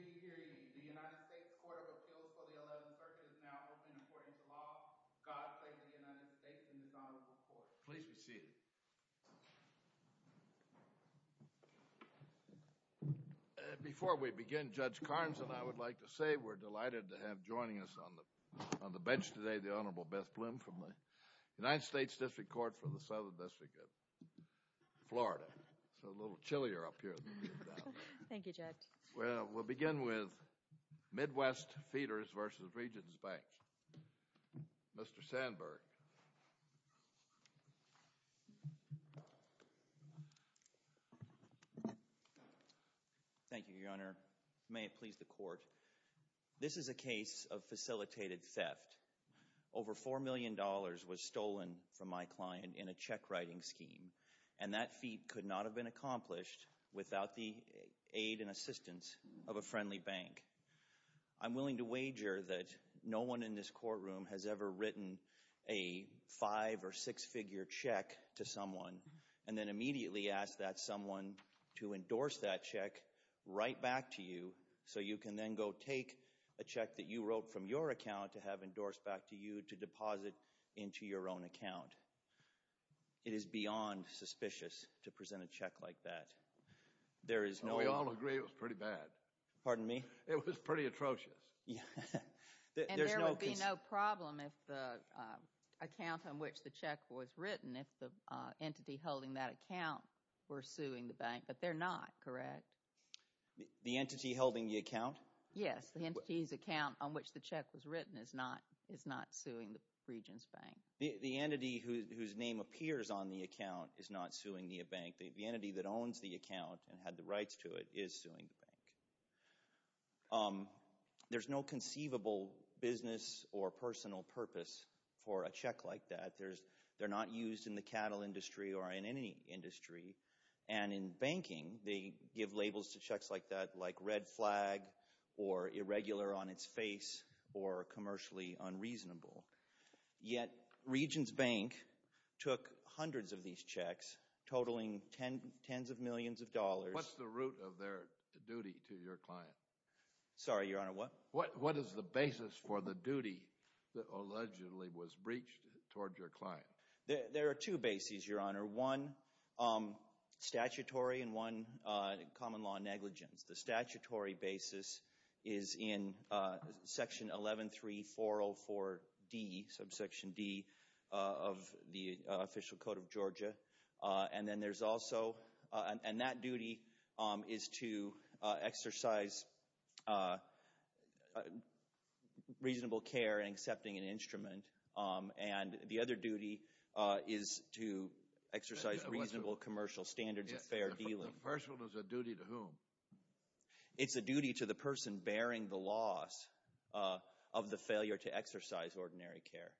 The United States Court of Appeals for the 11th Circuit is now open to court into law. God save the United States and His Honorable Court. Please be seated. Before we begin, Judge Carnes and I would like to say we're delighted to have joining us on the bench today the Honorable Beth Bloom from the United States District Court for the Southern District of Florida. It's a little chillier up here than it is down there. Thank you, Judge. Well, we'll begin with Midwest Feeders v. Regions Bank. Mr. Sandberg. Thank you, Your Honor. May it please the Court. This is a case of facilitated theft. Over $4 million was stolen from my client in a check-writing scheme, and that feat could not have been accomplished without the aid and assistance of a friendly bank. I'm willing to wager that no one in this courtroom has ever written a five- or six-figure check to someone and then immediately asked that someone to endorse that check right back to you so you can then go take a check that you wrote from your account to have endorsed back to you to deposit into your own account. It is beyond suspicious to present a check like that. We all agree it was pretty bad. Pardon me? It was pretty atrocious. And there would be no problem if the account on which the check was written, if the entity holding that account were suing the bank, but they're not, correct? The entity holding the account? Yes, the entity's account on which the check was written is not suing the Regions Bank. The entity whose name appears on the account is not suing the bank. The entity that owns the account and had the rights to it is suing the bank. There's no conceivable business or personal purpose for a check like that. They're not used in the cattle industry or in any industry. And in banking, they give labels to checks like that, like red flag or irregular on its face or commercially unreasonable. Yet Regions Bank took hundreds of these checks, totaling tens of millions of dollars. What's the root of their duty to your client? Sorry, Your Honor, what? What is the basis for the duty that allegedly was breached toward your client? There are two bases, Your Honor, one statutory and one common law negligence. The statutory basis is in Section 11-3-404-D, Subsection D of the Official Code of Georgia. And then there's also, and that duty is to exercise reasonable care in accepting an instrument. And the other duty is to exercise reasonable commercial standards of fair dealing. The first one is a duty to whom? It's a duty to the person bearing the loss of the failure to exercise ordinary care.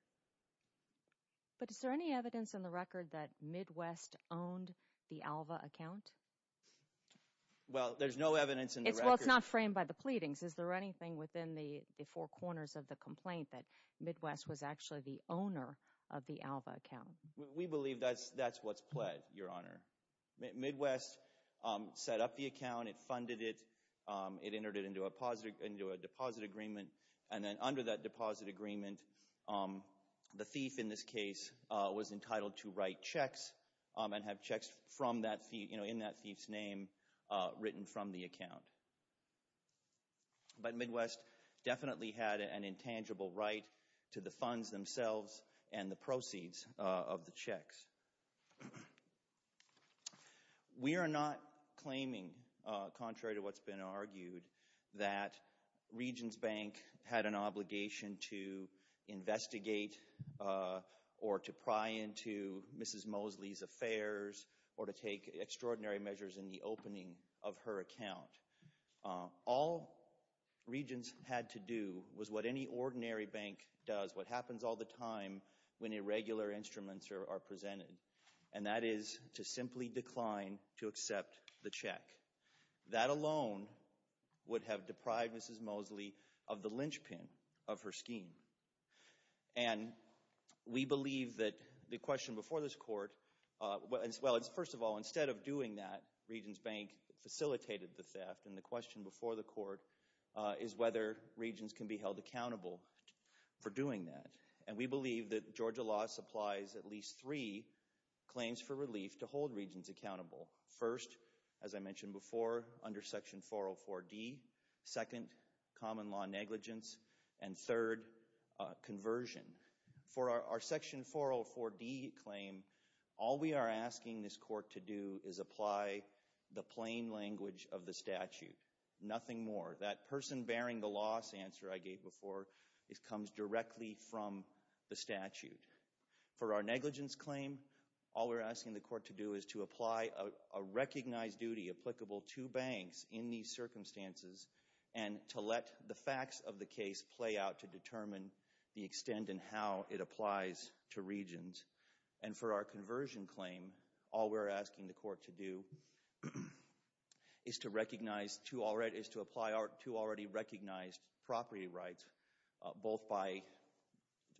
But is there any evidence in the record that Midwest owned the Alva account? Well, there's no evidence in the record. Well, it's not framed by the pleadings. Is there anything within the four corners of the complaint that Midwest was actually the owner of the Alva account? We believe that's what's pled, Your Honor. Midwest set up the account. It funded it. It entered it into a deposit agreement. And then under that deposit agreement, the thief in this case was entitled to write checks and have checks in that thief's name written from the account. But Midwest definitely had an intangible right to the funds themselves and the proceeds of the checks. We are not claiming, contrary to what's been argued, that Regions Bank had an obligation to investigate or to pry into Mrs. Mosley's affairs or to take extraordinary measures in the opening of her account. All Regions had to do was what any ordinary bank does, what happens all the time when irregular instruments are presented, and that is to simply decline to accept the check. That alone would have deprived Mrs. Mosley of the linchpin of her scheme. And we believe that the question before this court, well, first of all, instead of doing that, Regions Bank facilitated the theft. And the question before the court is whether Regions can be held accountable for doing that. And we believe that Georgia law supplies at least three claims for relief to hold Regions accountable. First, as I mentioned before, under Section 404D. Second, common law negligence. And third, conversion. For our Section 404D claim, all we are asking this court to do is apply the plain language of the statute. Nothing more. That person bearing the loss answer I gave before comes directly from the statute. For our negligence claim, all we're asking the court to do is to apply a recognized duty to the applicable two banks in these circumstances and to let the facts of the case play out to determine the extent and how it applies to Regions. And for our conversion claim, all we're asking the court to do is to recognize two already recognized property rights, both by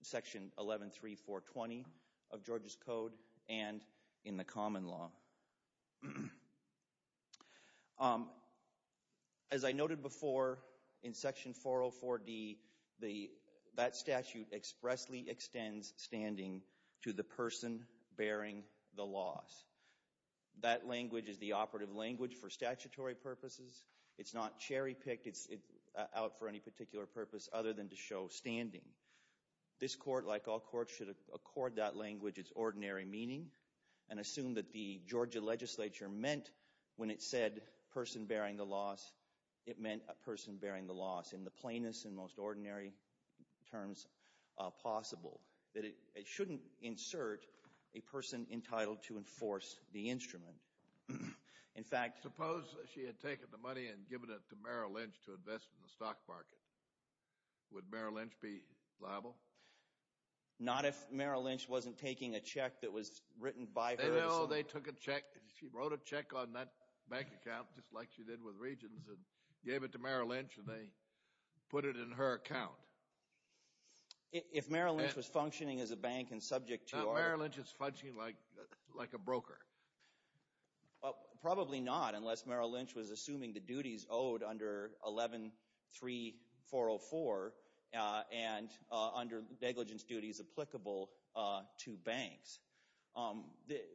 Section 113420 of Georgia's Code and in the common law. As I noted before, in Section 404D, that statute expressly extends standing to the person bearing the loss. That language is the operative language for statutory purposes. It's not cherry-picked. It's out for any particular purpose other than to show standing. This court, like all courts, should accord that language its ordinary meaning and assume that the Georgia legislature meant when it said person bearing the loss, it meant a person bearing the loss in the plainest and most ordinary terms possible, that it shouldn't insert a person entitled to enforce the instrument. Suppose she had taken the money and given it to Merrill Lynch to invest in the stock market. Would Merrill Lynch be liable? Not if Merrill Lynch wasn't taking a check that was written by her. Oh, they took a check. She wrote a check on that bank account just like she did with Regions and gave it to Merrill Lynch and they put it in her account. If Merrill Lynch was functioning as a bank and subject to order. Merrill Lynch is functioning like a broker. Probably not unless Merrill Lynch was assuming the duties owed under 11-3-404 and under negligence duties applicable to banks.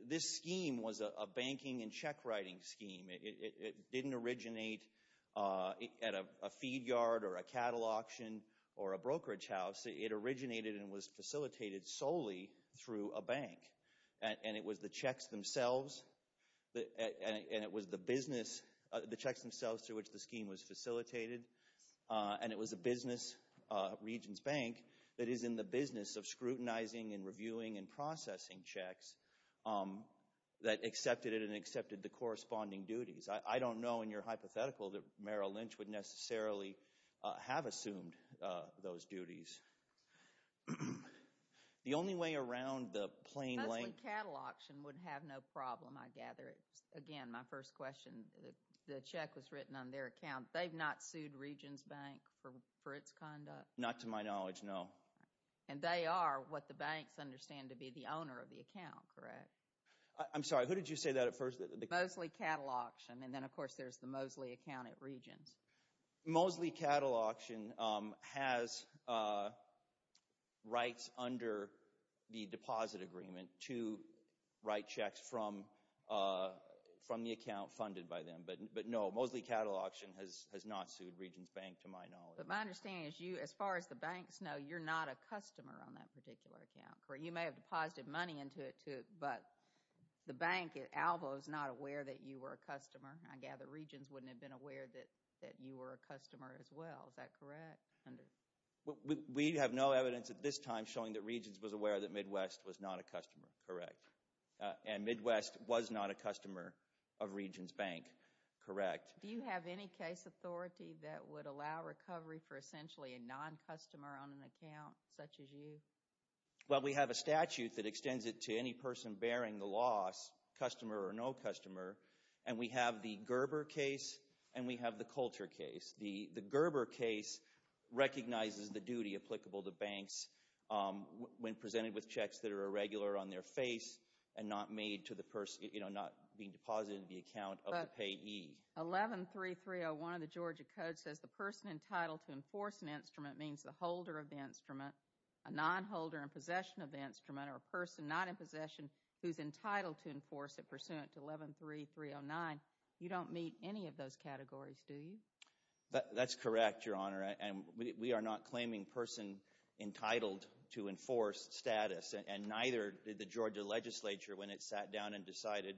This scheme was a banking and check writing scheme. It didn't originate at a feed yard or a cattle auction or a brokerage house. It originated and was facilitated solely through a bank. And it was the checks themselves and it was the business, the checks themselves through which the scheme was facilitated and it was a business, Regions Bank, that is in the business of scrutinizing and reviewing and processing checks that accepted it and accepted the corresponding duties. I don't know in your hypothetical that Merrill Lynch would necessarily have assumed those duties. The only way around the plain lay. Mostly cattle auction would have no problem, I gather. Again, my first question, the check was written on their account. They've not sued Regions Bank for its conduct? Not to my knowledge, no. And they are what the banks understand to be the owner of the account, correct? I'm sorry, who did you say that at first? Mosley Cattle Auction. And then, of course, there's the Mosley account at Regions. Mosley Cattle Auction has rights under the deposit agreement to write checks from the account funded by them. But, no, Mosley Cattle Auction has not sued Regions Bank to my knowledge. But my understanding is you, as far as the banks know, you're not a customer on that particular account. You may have deposited money into it, too, but the bank at Alva is not aware that you were a customer. I gather Regions wouldn't have been aware that you were a customer as well. Is that correct? We have no evidence at this time showing that Regions was aware that Midwest was not a customer, correct. And Midwest was not a customer of Regions Bank, correct. Do you have any case authority that would allow recovery for essentially a non-customer on an account such as you? Well, we have a statute that extends it to any person bearing the loss, customer or no customer, and we have the Gerber case and we have the Coulter case. The Gerber case recognizes the duty applicable to banks when presented with checks that are irregular on their face and not made to the person, you know, not being deposited in the account of the payee. 11-3301 of the Georgia Code says the person entitled to enforce an instrument means the holder of the instrument. A non-holder in possession of the instrument or a person not in possession who's entitled to enforce it pursuant to 11-3309, you don't meet any of those categories, do you? That's correct, Your Honor, and we are not claiming person entitled to enforce status, and neither did the Georgia legislature when it sat down and decided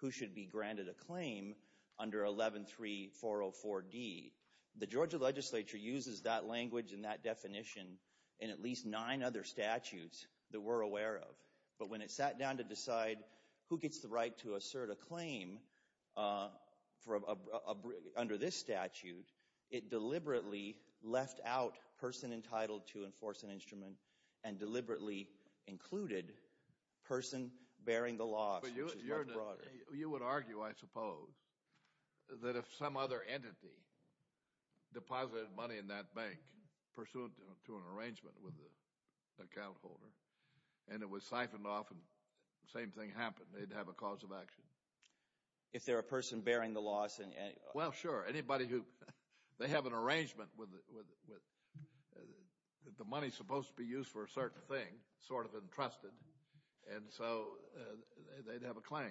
who should be granted a claim under 11-3404-D. The Georgia legislature uses that language and that definition in at least nine other statutes that we're aware of, but when it sat down to decide who gets the right to assert a claim under this statute, it deliberately left out person entitled to enforce an instrument and deliberately included person bearing the loss, which is much broader. You would argue, I suppose, that if some other entity deposited money in that bank pursuant to an arrangement with the account holder and it was siphoned off and the same thing happened, they'd have a cause of action. If they're a person bearing the loss and— Well, sure, anybody who—they have an arrangement with— the money's supposed to be used for a certain thing, sort of entrusted, and so they'd have a claim.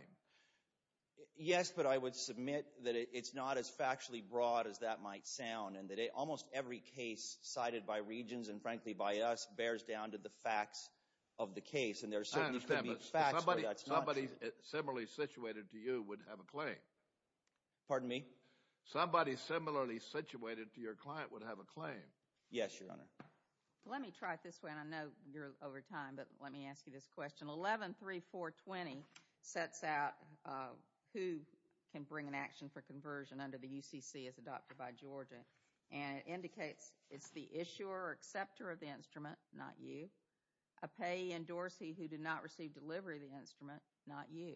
Yes, but I would submit that it's not as factually broad as that might sound and that almost every case cited by Regions and, frankly, by us bears down to the facts of the case, and there certainly could be facts where that's not true. I understand, but somebody similarly situated to you would have a claim. Pardon me? Somebody similarly situated to your client would have a claim. Yes, Your Honor. Let me try it this way, and I know you're over time, but let me ask you this question. 11-3420 sets out who can bring an action for conversion under the UCC as adopted by Georgia, and it indicates it's the issuer or acceptor of the instrument, not you, a payee in Dorsey who did not receive delivery of the instrument, not you.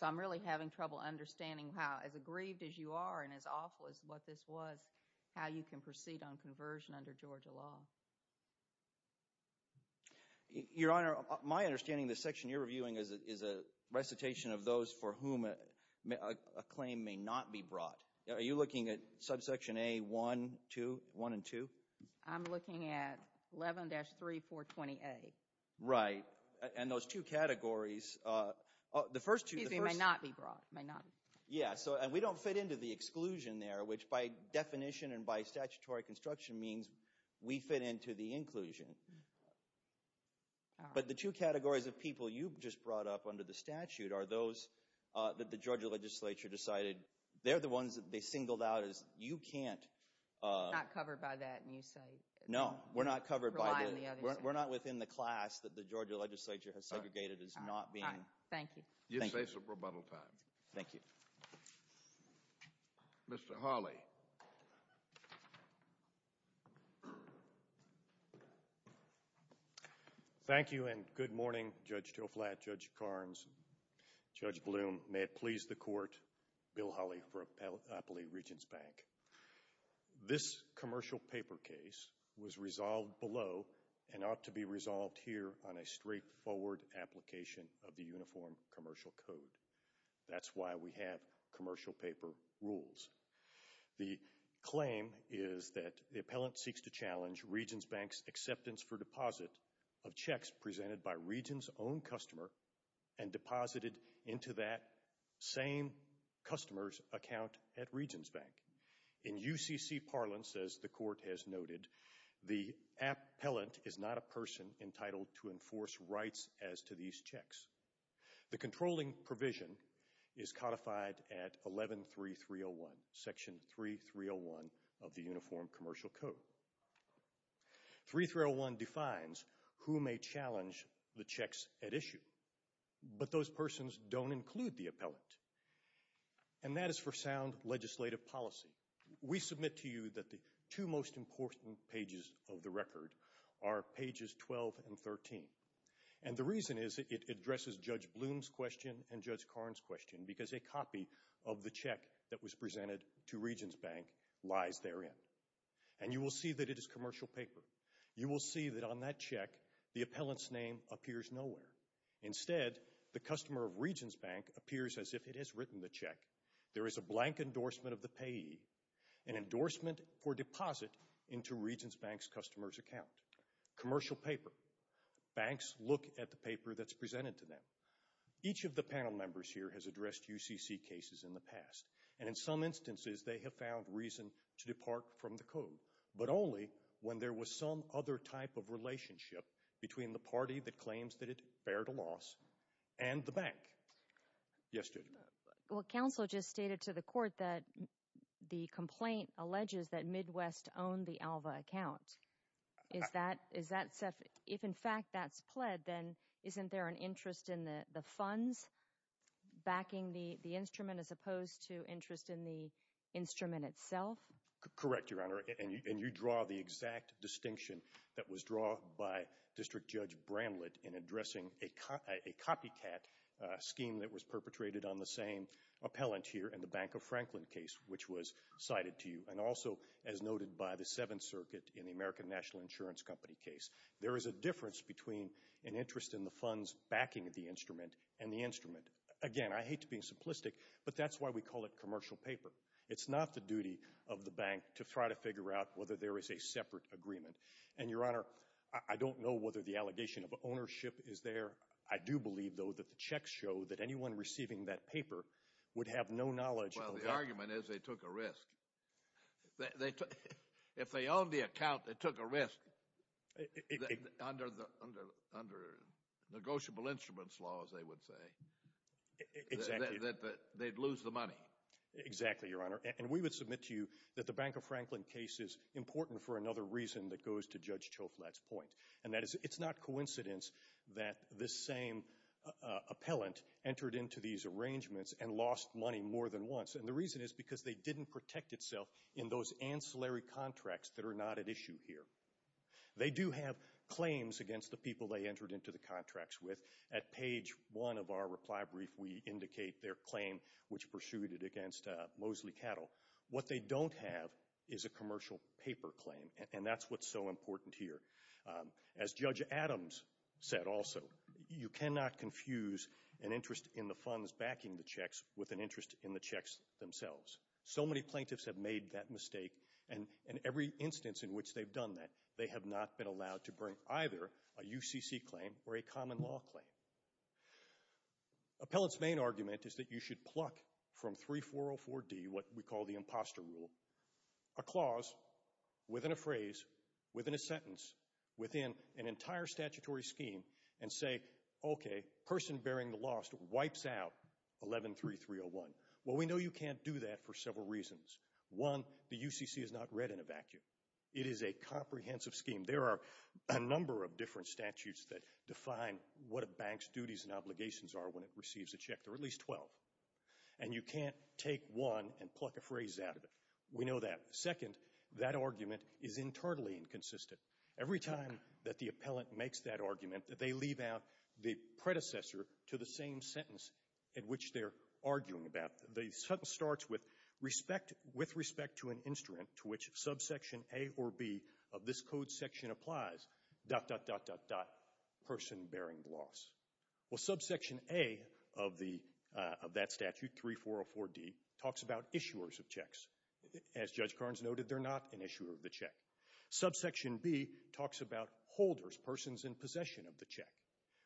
So I'm really having trouble understanding how, as aggrieved as you are and as awful as what this was, how you can proceed on conversion under Georgia law. Your Honor, my understanding of this section you're reviewing is a recitation of those for whom a claim may not be brought. Are you looking at subsection A1 and 2? I'm looking at 11-3420A. Right, and those two categories, the first two… Excuse me, may not be brought. Yeah, and we don't fit into the exclusion there, which by definition and by statutory construction means we fit into the inclusion. But the two categories of people you just brought up under the statute are those that the Georgia legislature decided they're the ones that they singled out as you can't… We're not covered by that and you say… No, we're not within the class that the Georgia legislature has segregated as not being… Thank you. You say some rebuttal time. Thank you. Mr. Hawley. Thank you and good morning, Judge Tillflat, Judge Karnes, Judge Bloom. May it please the court, Bill Hawley for Appalachian Regents Bank. This commercial paper case was resolved below and ought to be resolved here on a straightforward application of the Uniform Commercial Code. That's why we have commercial paper rules. The claim is that the appellant seeks to challenge Regents Bank's acceptance for deposit of checks presented by Regents' own customer and deposited into that same customer's account at Regents Bank. And the appellant is not a person entitled to enforce rights as to these checks. The controlling provision is codified at 11.3.301, Section 3.301 of the Uniform Commercial Code. 3.301 defines who may challenge the checks at issue, but those persons don't include the appellant. And that is for sound legislative policy. We submit to you that the two most important pages of the record are pages 12 and 13. And the reason is it addresses Judge Bloom's question and Judge Karnes' question because a copy of the check that was presented to Regents Bank lies therein. And you will see that it is commercial paper. You will see that on that check the appellant's name appears nowhere. Instead, the customer of Regents Bank appears as if it has written the check. There is a blank endorsement of the payee, an endorsement for deposit into Regents Bank's customer's account, commercial paper. Banks look at the paper that's presented to them. Each of the panel members here has addressed UCC cases in the past, and in some instances they have found reason to depart from the code, but only when there was some other type of relationship between the party that claims that it bared a loss and the bank. Yes, Judge. Well, counsel just stated to the court that the complaint alleges that Midwest owned the Alva account. If, in fact, that's pled, then isn't there an interest in the funds backing the instrument as opposed to interest in the instrument itself? Correct, Your Honor. And you draw the exact distinction that was drawn by District Judge Bramlett in addressing a copycat scheme that was perpetrated on the same appellant here in the Bank of Franklin case, which was cited to you, and also as noted by the Seventh Circuit in the American National Insurance Company case. There is a difference between an interest in the funds backing the instrument and the instrument. Again, I hate to be simplistic, but that's why we call it commercial paper. It's not the duty of the bank to try to figure out whether there is a separate agreement. And, Your Honor, I don't know whether the allegation of ownership is there. I do believe, though, that the checks show that anyone receiving that paper would have no knowledge of that. Well, the argument is they took a risk. If they owned the account, they took a risk under negotiable instruments laws, they would say. Exactly. That they'd lose the money. Exactly, Your Honor. And we would submit to you that the Bank of Franklin case is important for another reason that goes to Judge Choflat's point, and that is it's not coincidence that this same appellant entered into these arrangements and lost money more than once. And the reason is because they didn't protect itself in those ancillary contracts that are not at issue here. They do have claims against the people they entered into the contracts with. At page one of our reply brief, we indicate their claim, which pursued it against Moseley Cattle. What they don't have is a commercial paper claim, and that's what's so important here. As Judge Adams said also, you cannot confuse an interest in the funds backing the checks with an interest in the checks themselves. So many plaintiffs have made that mistake, and in every instance in which they've done that, they have not been allowed to bring either a UCC claim or a common law claim. Appellant's main argument is that you should pluck from 3404D, what we call the imposter rule, a clause within a phrase, within a sentence, within an entire statutory scheme, and say, okay, person bearing the loss wipes out 113301. Well, we know you can't do that for several reasons. One, the UCC is not read in a vacuum. It is a comprehensive scheme. There are a number of different statutes that define what a bank's duties and obligations are when it receives a check. There are at least 12, and you can't take one and pluck a phrase out of it. We know that. Second, that argument is internally inconsistent. Every time that the appellant makes that argument, they leave out the predecessor to the same sentence in which they're arguing about. The sentence starts with respect to an instrument to which subsection A or B of this code section applies, dot, dot, dot, dot, dot, person bearing the loss. Well, subsection A of that statute, 3404D, talks about issuers of checks. As Judge Carnes noted, they're not an issuer of the check. Subsection B talks about holders, persons in possession of the check.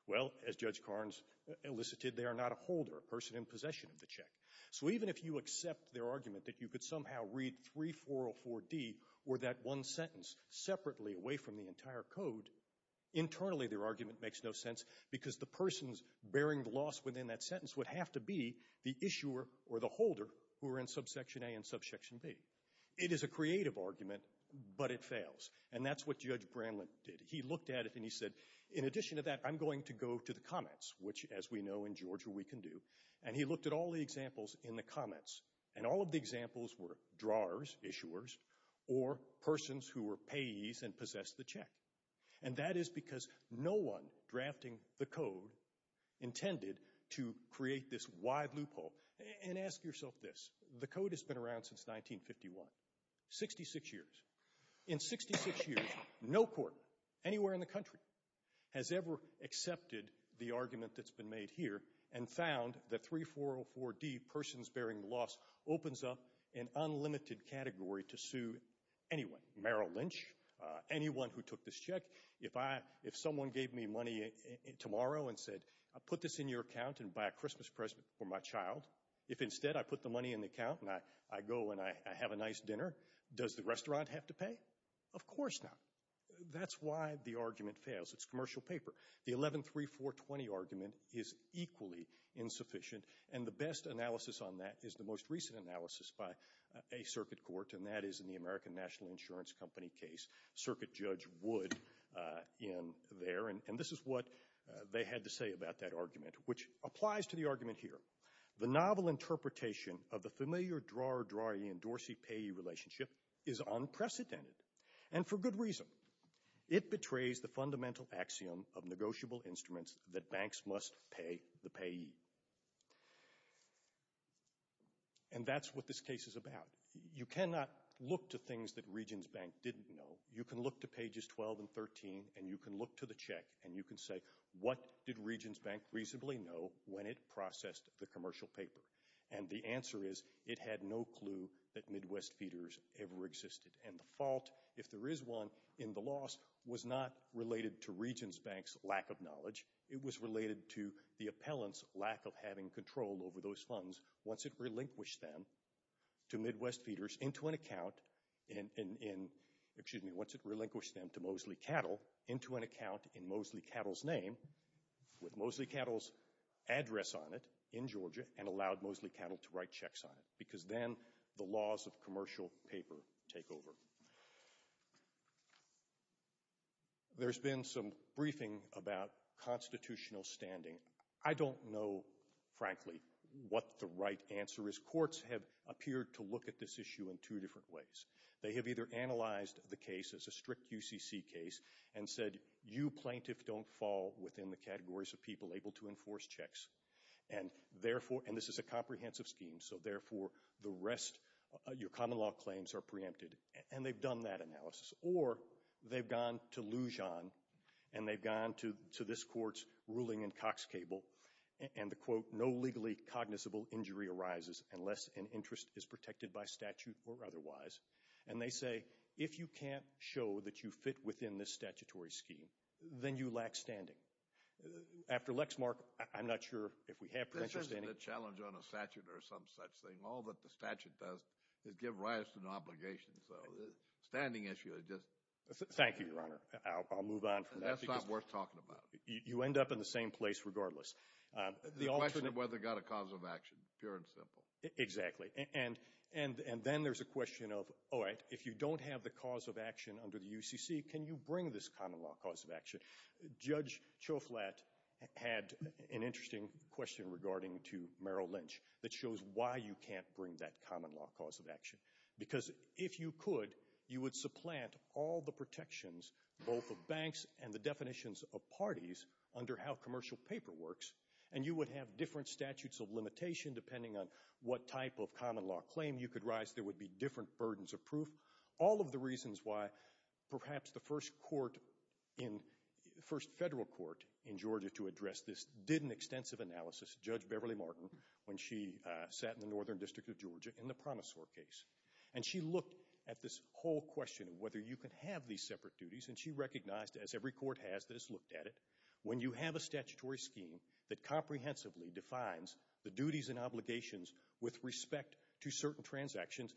Well, as Judge Carnes elicited, they are not a holder, a person in possession of the check. So even if you accept their argument that you could somehow read 3404D or that one sentence separately away from the entire code, internally their argument makes no sense because the persons bearing the loss within that sentence would have to be the issuer or the holder who are in subsection A and subsection B. It is a creative argument, but it fails. And that's what Judge Branlint did. He looked at it and he said, in addition to that, I'm going to go to the comments, which, as we know in Georgia, we can do. And he looked at all the examples in the comments, and all of the examples were drawers, issuers, or persons who were payees and possessed the check. And that is because no one drafting the code intended to create this wide loophole. And ask yourself this. The code has been around since 1951, 66 years. In 66 years, no court anywhere in the country has ever accepted the argument that's been made here and found that 3404D, persons bearing the loss, opens up an unlimited category to sue anyone. Merrill Lynch, anyone who took this check. If someone gave me money tomorrow and said, put this in your account and buy a Christmas present for my child, if instead I put the money in the account and I go and I have a nice dinner, does the restaurant have to pay? Of course not. That's why the argument fails. It's commercial paper. The 113420 argument is equally insufficient. And the best analysis on that is the most recent analysis by a circuit court, and that is in the American National Insurance Company case. Circuit Judge Wood in there. And this is what they had to say about that argument, which applies to the argument here. The novel interpretation of the familiar drawer-drawee and Dorsey-payee relationship is unprecedented and for good reason. It betrays the fundamental axiom of negotiable instruments that banks must pay the payee. And that's what this case is about. You cannot look to things that Regions Bank didn't know. You can look to pages 12 and 13, and you can look to the check, and you can say, what did Regions Bank reasonably know when it processed the commercial paper? And the answer is it had no clue that Midwest Feeders ever existed. And the fault, if there is one, in the loss was not related to Regions Bank's lack of knowledge. It was related to the appellant's lack of having control over those funds. Once it relinquished them to Mosley Cattle into an account in Mosley Cattle's name with Mosley Cattle's address on it in Georgia and allowed Mosley Cattle to write checks on it because then the laws of commercial paper take over. There's been some briefing about constitutional standing. I don't know, frankly, what the right answer is. Courts have appeared to look at this issue in two different ways. They have either analyzed the case as a strict UCC case and said, you plaintiff don't fall within the categories of people able to enforce checks, and this is a comprehensive scheme, so therefore the rest of your common law claims are preempted, and they've done that analysis. Or they've gone to Lujan, and they've gone to this court's ruling in Cox Cable, and the quote, no legally cognizable injury arises unless an interest is protected by statute or otherwise. And they say, if you can't show that you fit within this statutory scheme, then you lack standing. After Lexmark, I'm not sure if we have parental standing. This isn't a challenge on a statute or some such thing. All that the statute does is give rise to an obligation. So the standing issue is just— Thank you, Your Honor. I'll move on from that. That's not worth talking about. You end up in the same place regardless. The question of whether it got a cause of action, pure and simple. Exactly. And then there's a question of, all right, if you don't have the cause of action under the UCC, can you bring this common law cause of action? Judge Choflat had an interesting question regarding to Merrill Lynch that shows why you can't bring that common law cause of action. Because if you could, you would supplant all the protections both of banks and the definitions of parties under how commercial paper works, and you would have different statutes of limitation depending on what type of common law claim you could rise. There would be different burdens of proof. All of the reasons why perhaps the first court in—the first federal court in Georgia to address this did an extensive analysis, Judge Beverly Martin, when she sat in the Northern District of Georgia in the Promisor case. And she looked at this whole question of whether you could have these separate duties, and she recognized, as every court has that has looked at it, when you have a statutory scheme that comprehensively defines the duties and obligations with respect to certain transactions,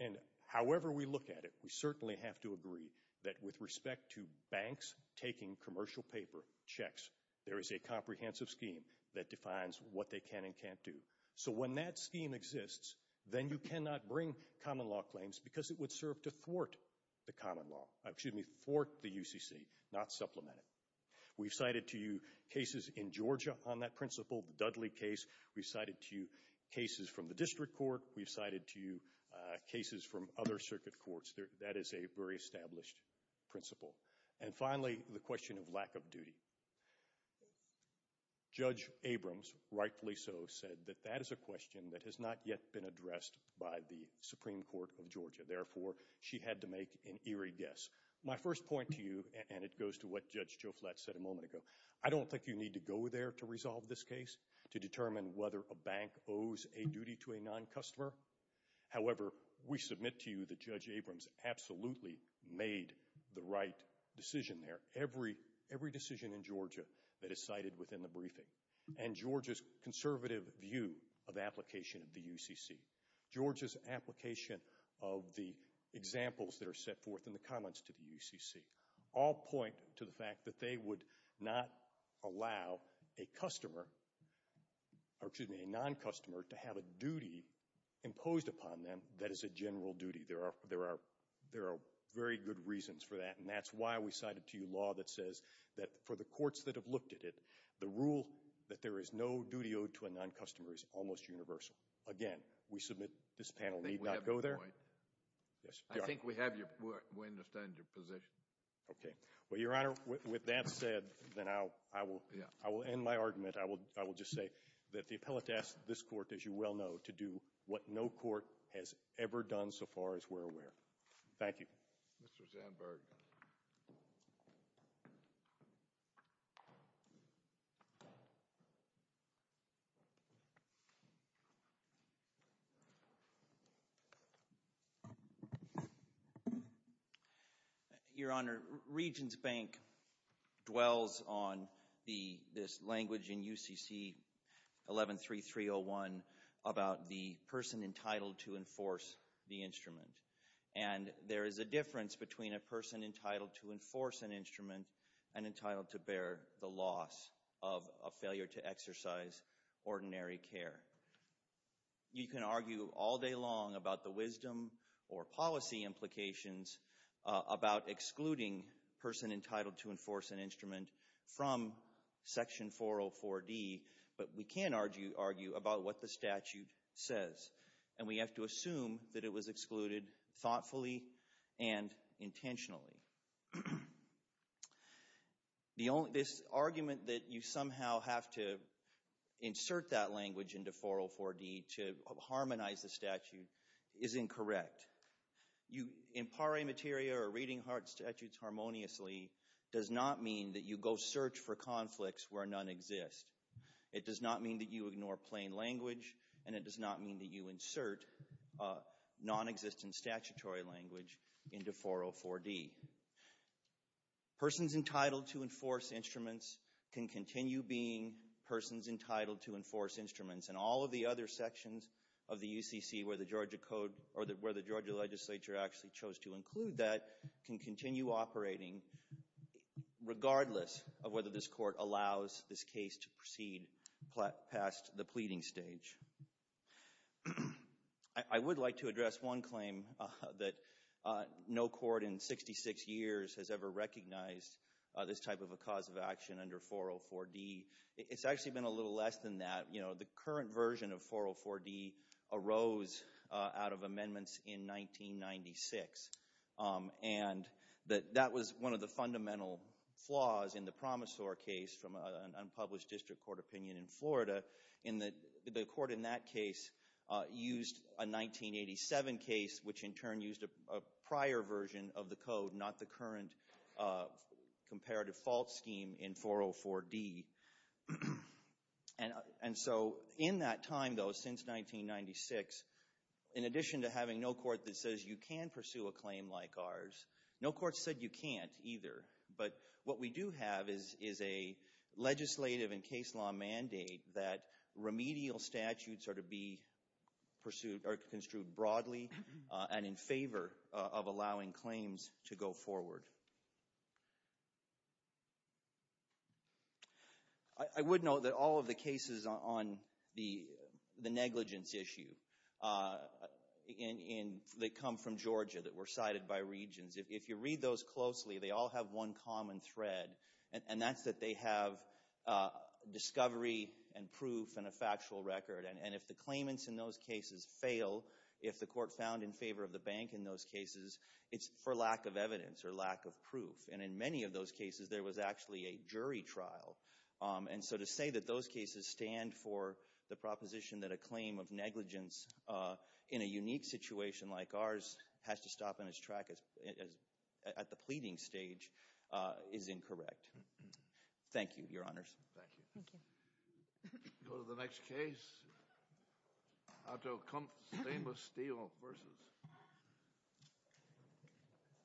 and however we look at it, we certainly have to agree that with respect to banks taking commercial paper checks, there is a comprehensive scheme that defines what they can and can't do. So when that scheme exists, then you cannot bring common law claims because it would serve to thwart the common law—excuse me, thwart the UCC, not supplement it. We've cited to you cases in Georgia on that principle, the Dudley case. We've cited to you cases from the district court. We've cited to you cases from other circuit courts. That is a very established principle. And finally, the question of lack of duty. Judge Abrams, rightfully so, said that that is a question that has not yet been addressed by the Supreme Court of Georgia. Therefore, she had to make an eerie guess. My first point to you, and it goes to what Judge Joe Flatt said a moment ago, I don't think you need to go there to resolve this case to determine whether a bank owes a duty to a non-customer. However, we submit to you that Judge Abrams absolutely made the right decision there. Every decision in Georgia that is cited within the briefing, and Georgia's conservative view of application of the UCC, Georgia's application of the examples that are set forth in the comments to the UCC, all point to the fact that they would not allow a customer, or excuse me, a non-customer, to have a duty imposed upon them that is a general duty. There are very good reasons for that. And that's why we cited to you law that says that for the courts that have looked at it, the rule that there is no duty owed to a non-customer is almost universal. Again, we submit this panel need not go there. I think we understand your position. Okay. Well, Your Honor, with that said, then I will end my argument. I will just say that the appellate asks this court, as you well know, to do what no court has ever done so far as we're aware. Thank you. Mr. Zandberg. Your Honor, Regents Bank dwells on this language in UCC 113301 about the person entitled to enforce the instrument. And there is a difference between a person entitled to enforce an instrument and entitled to bear the loss of a failure to exercise ordinary care. You can argue all day long about the wisdom or policy implications about excluding a person entitled to enforce an instrument from Section 404D, but we can't argue about what the statute says. And we have to assume that it was excluded thoughtfully and intentionally. This argument that you somehow have to insert that language into 404D to harmonize the statute is incorrect. You impare materia or reading hard statutes harmoniously does not mean that you go search for conflicts where none exist. It does not mean that you ignore plain language, and it does not mean that you insert nonexistent statutory language into 404D. Persons entitled to enforce instruments can continue being persons entitled to enforce instruments, and all of the other sections of the UCC where the Georgia Code or where the Georgia legislature actually chose to include that can continue operating regardless of whether this court allows this case to proceed past the pleading stage. I would like to address one claim that no court in 66 years has ever recognized this type of a cause of action under 404D. It's actually been a little less than that. The current version of 404D arose out of amendments in 1996, and that was one of the fundamental flaws in the Promisor case from an unpublished district court opinion in Florida. The court in that case used a 1987 case, which in turn used a prior version of the code, not the current comparative fault scheme in 404D. And so in that time, though, since 1996, in addition to having no court that says you can pursue a claim like ours, no court said you can't either. But what we do have is a legislative and case law mandate that remedial statutes are to be pursued or construed broadly and in favor of allowing claims to go forward. I would note that all of the cases on the negligence issue that come from Georgia that were cited by regions, if you read those closely, they all have one common thread, and that's that they have discovery and proof and a factual record. And if the claimants in those cases fail, if the court found in favor of the bank in those cases, it's for lack of evidence or lack of proof. And in many of those cases, there was actually a jury trial. And so to say that those cases stand for the proposition that a claim of negligence in a unique situation like ours has to stop on its track at the pleading stage is incorrect. Thank you, Your Honors. Thank you. Thank you. Go to the next case. Otto Kumpf, stainless steel versus cover chain.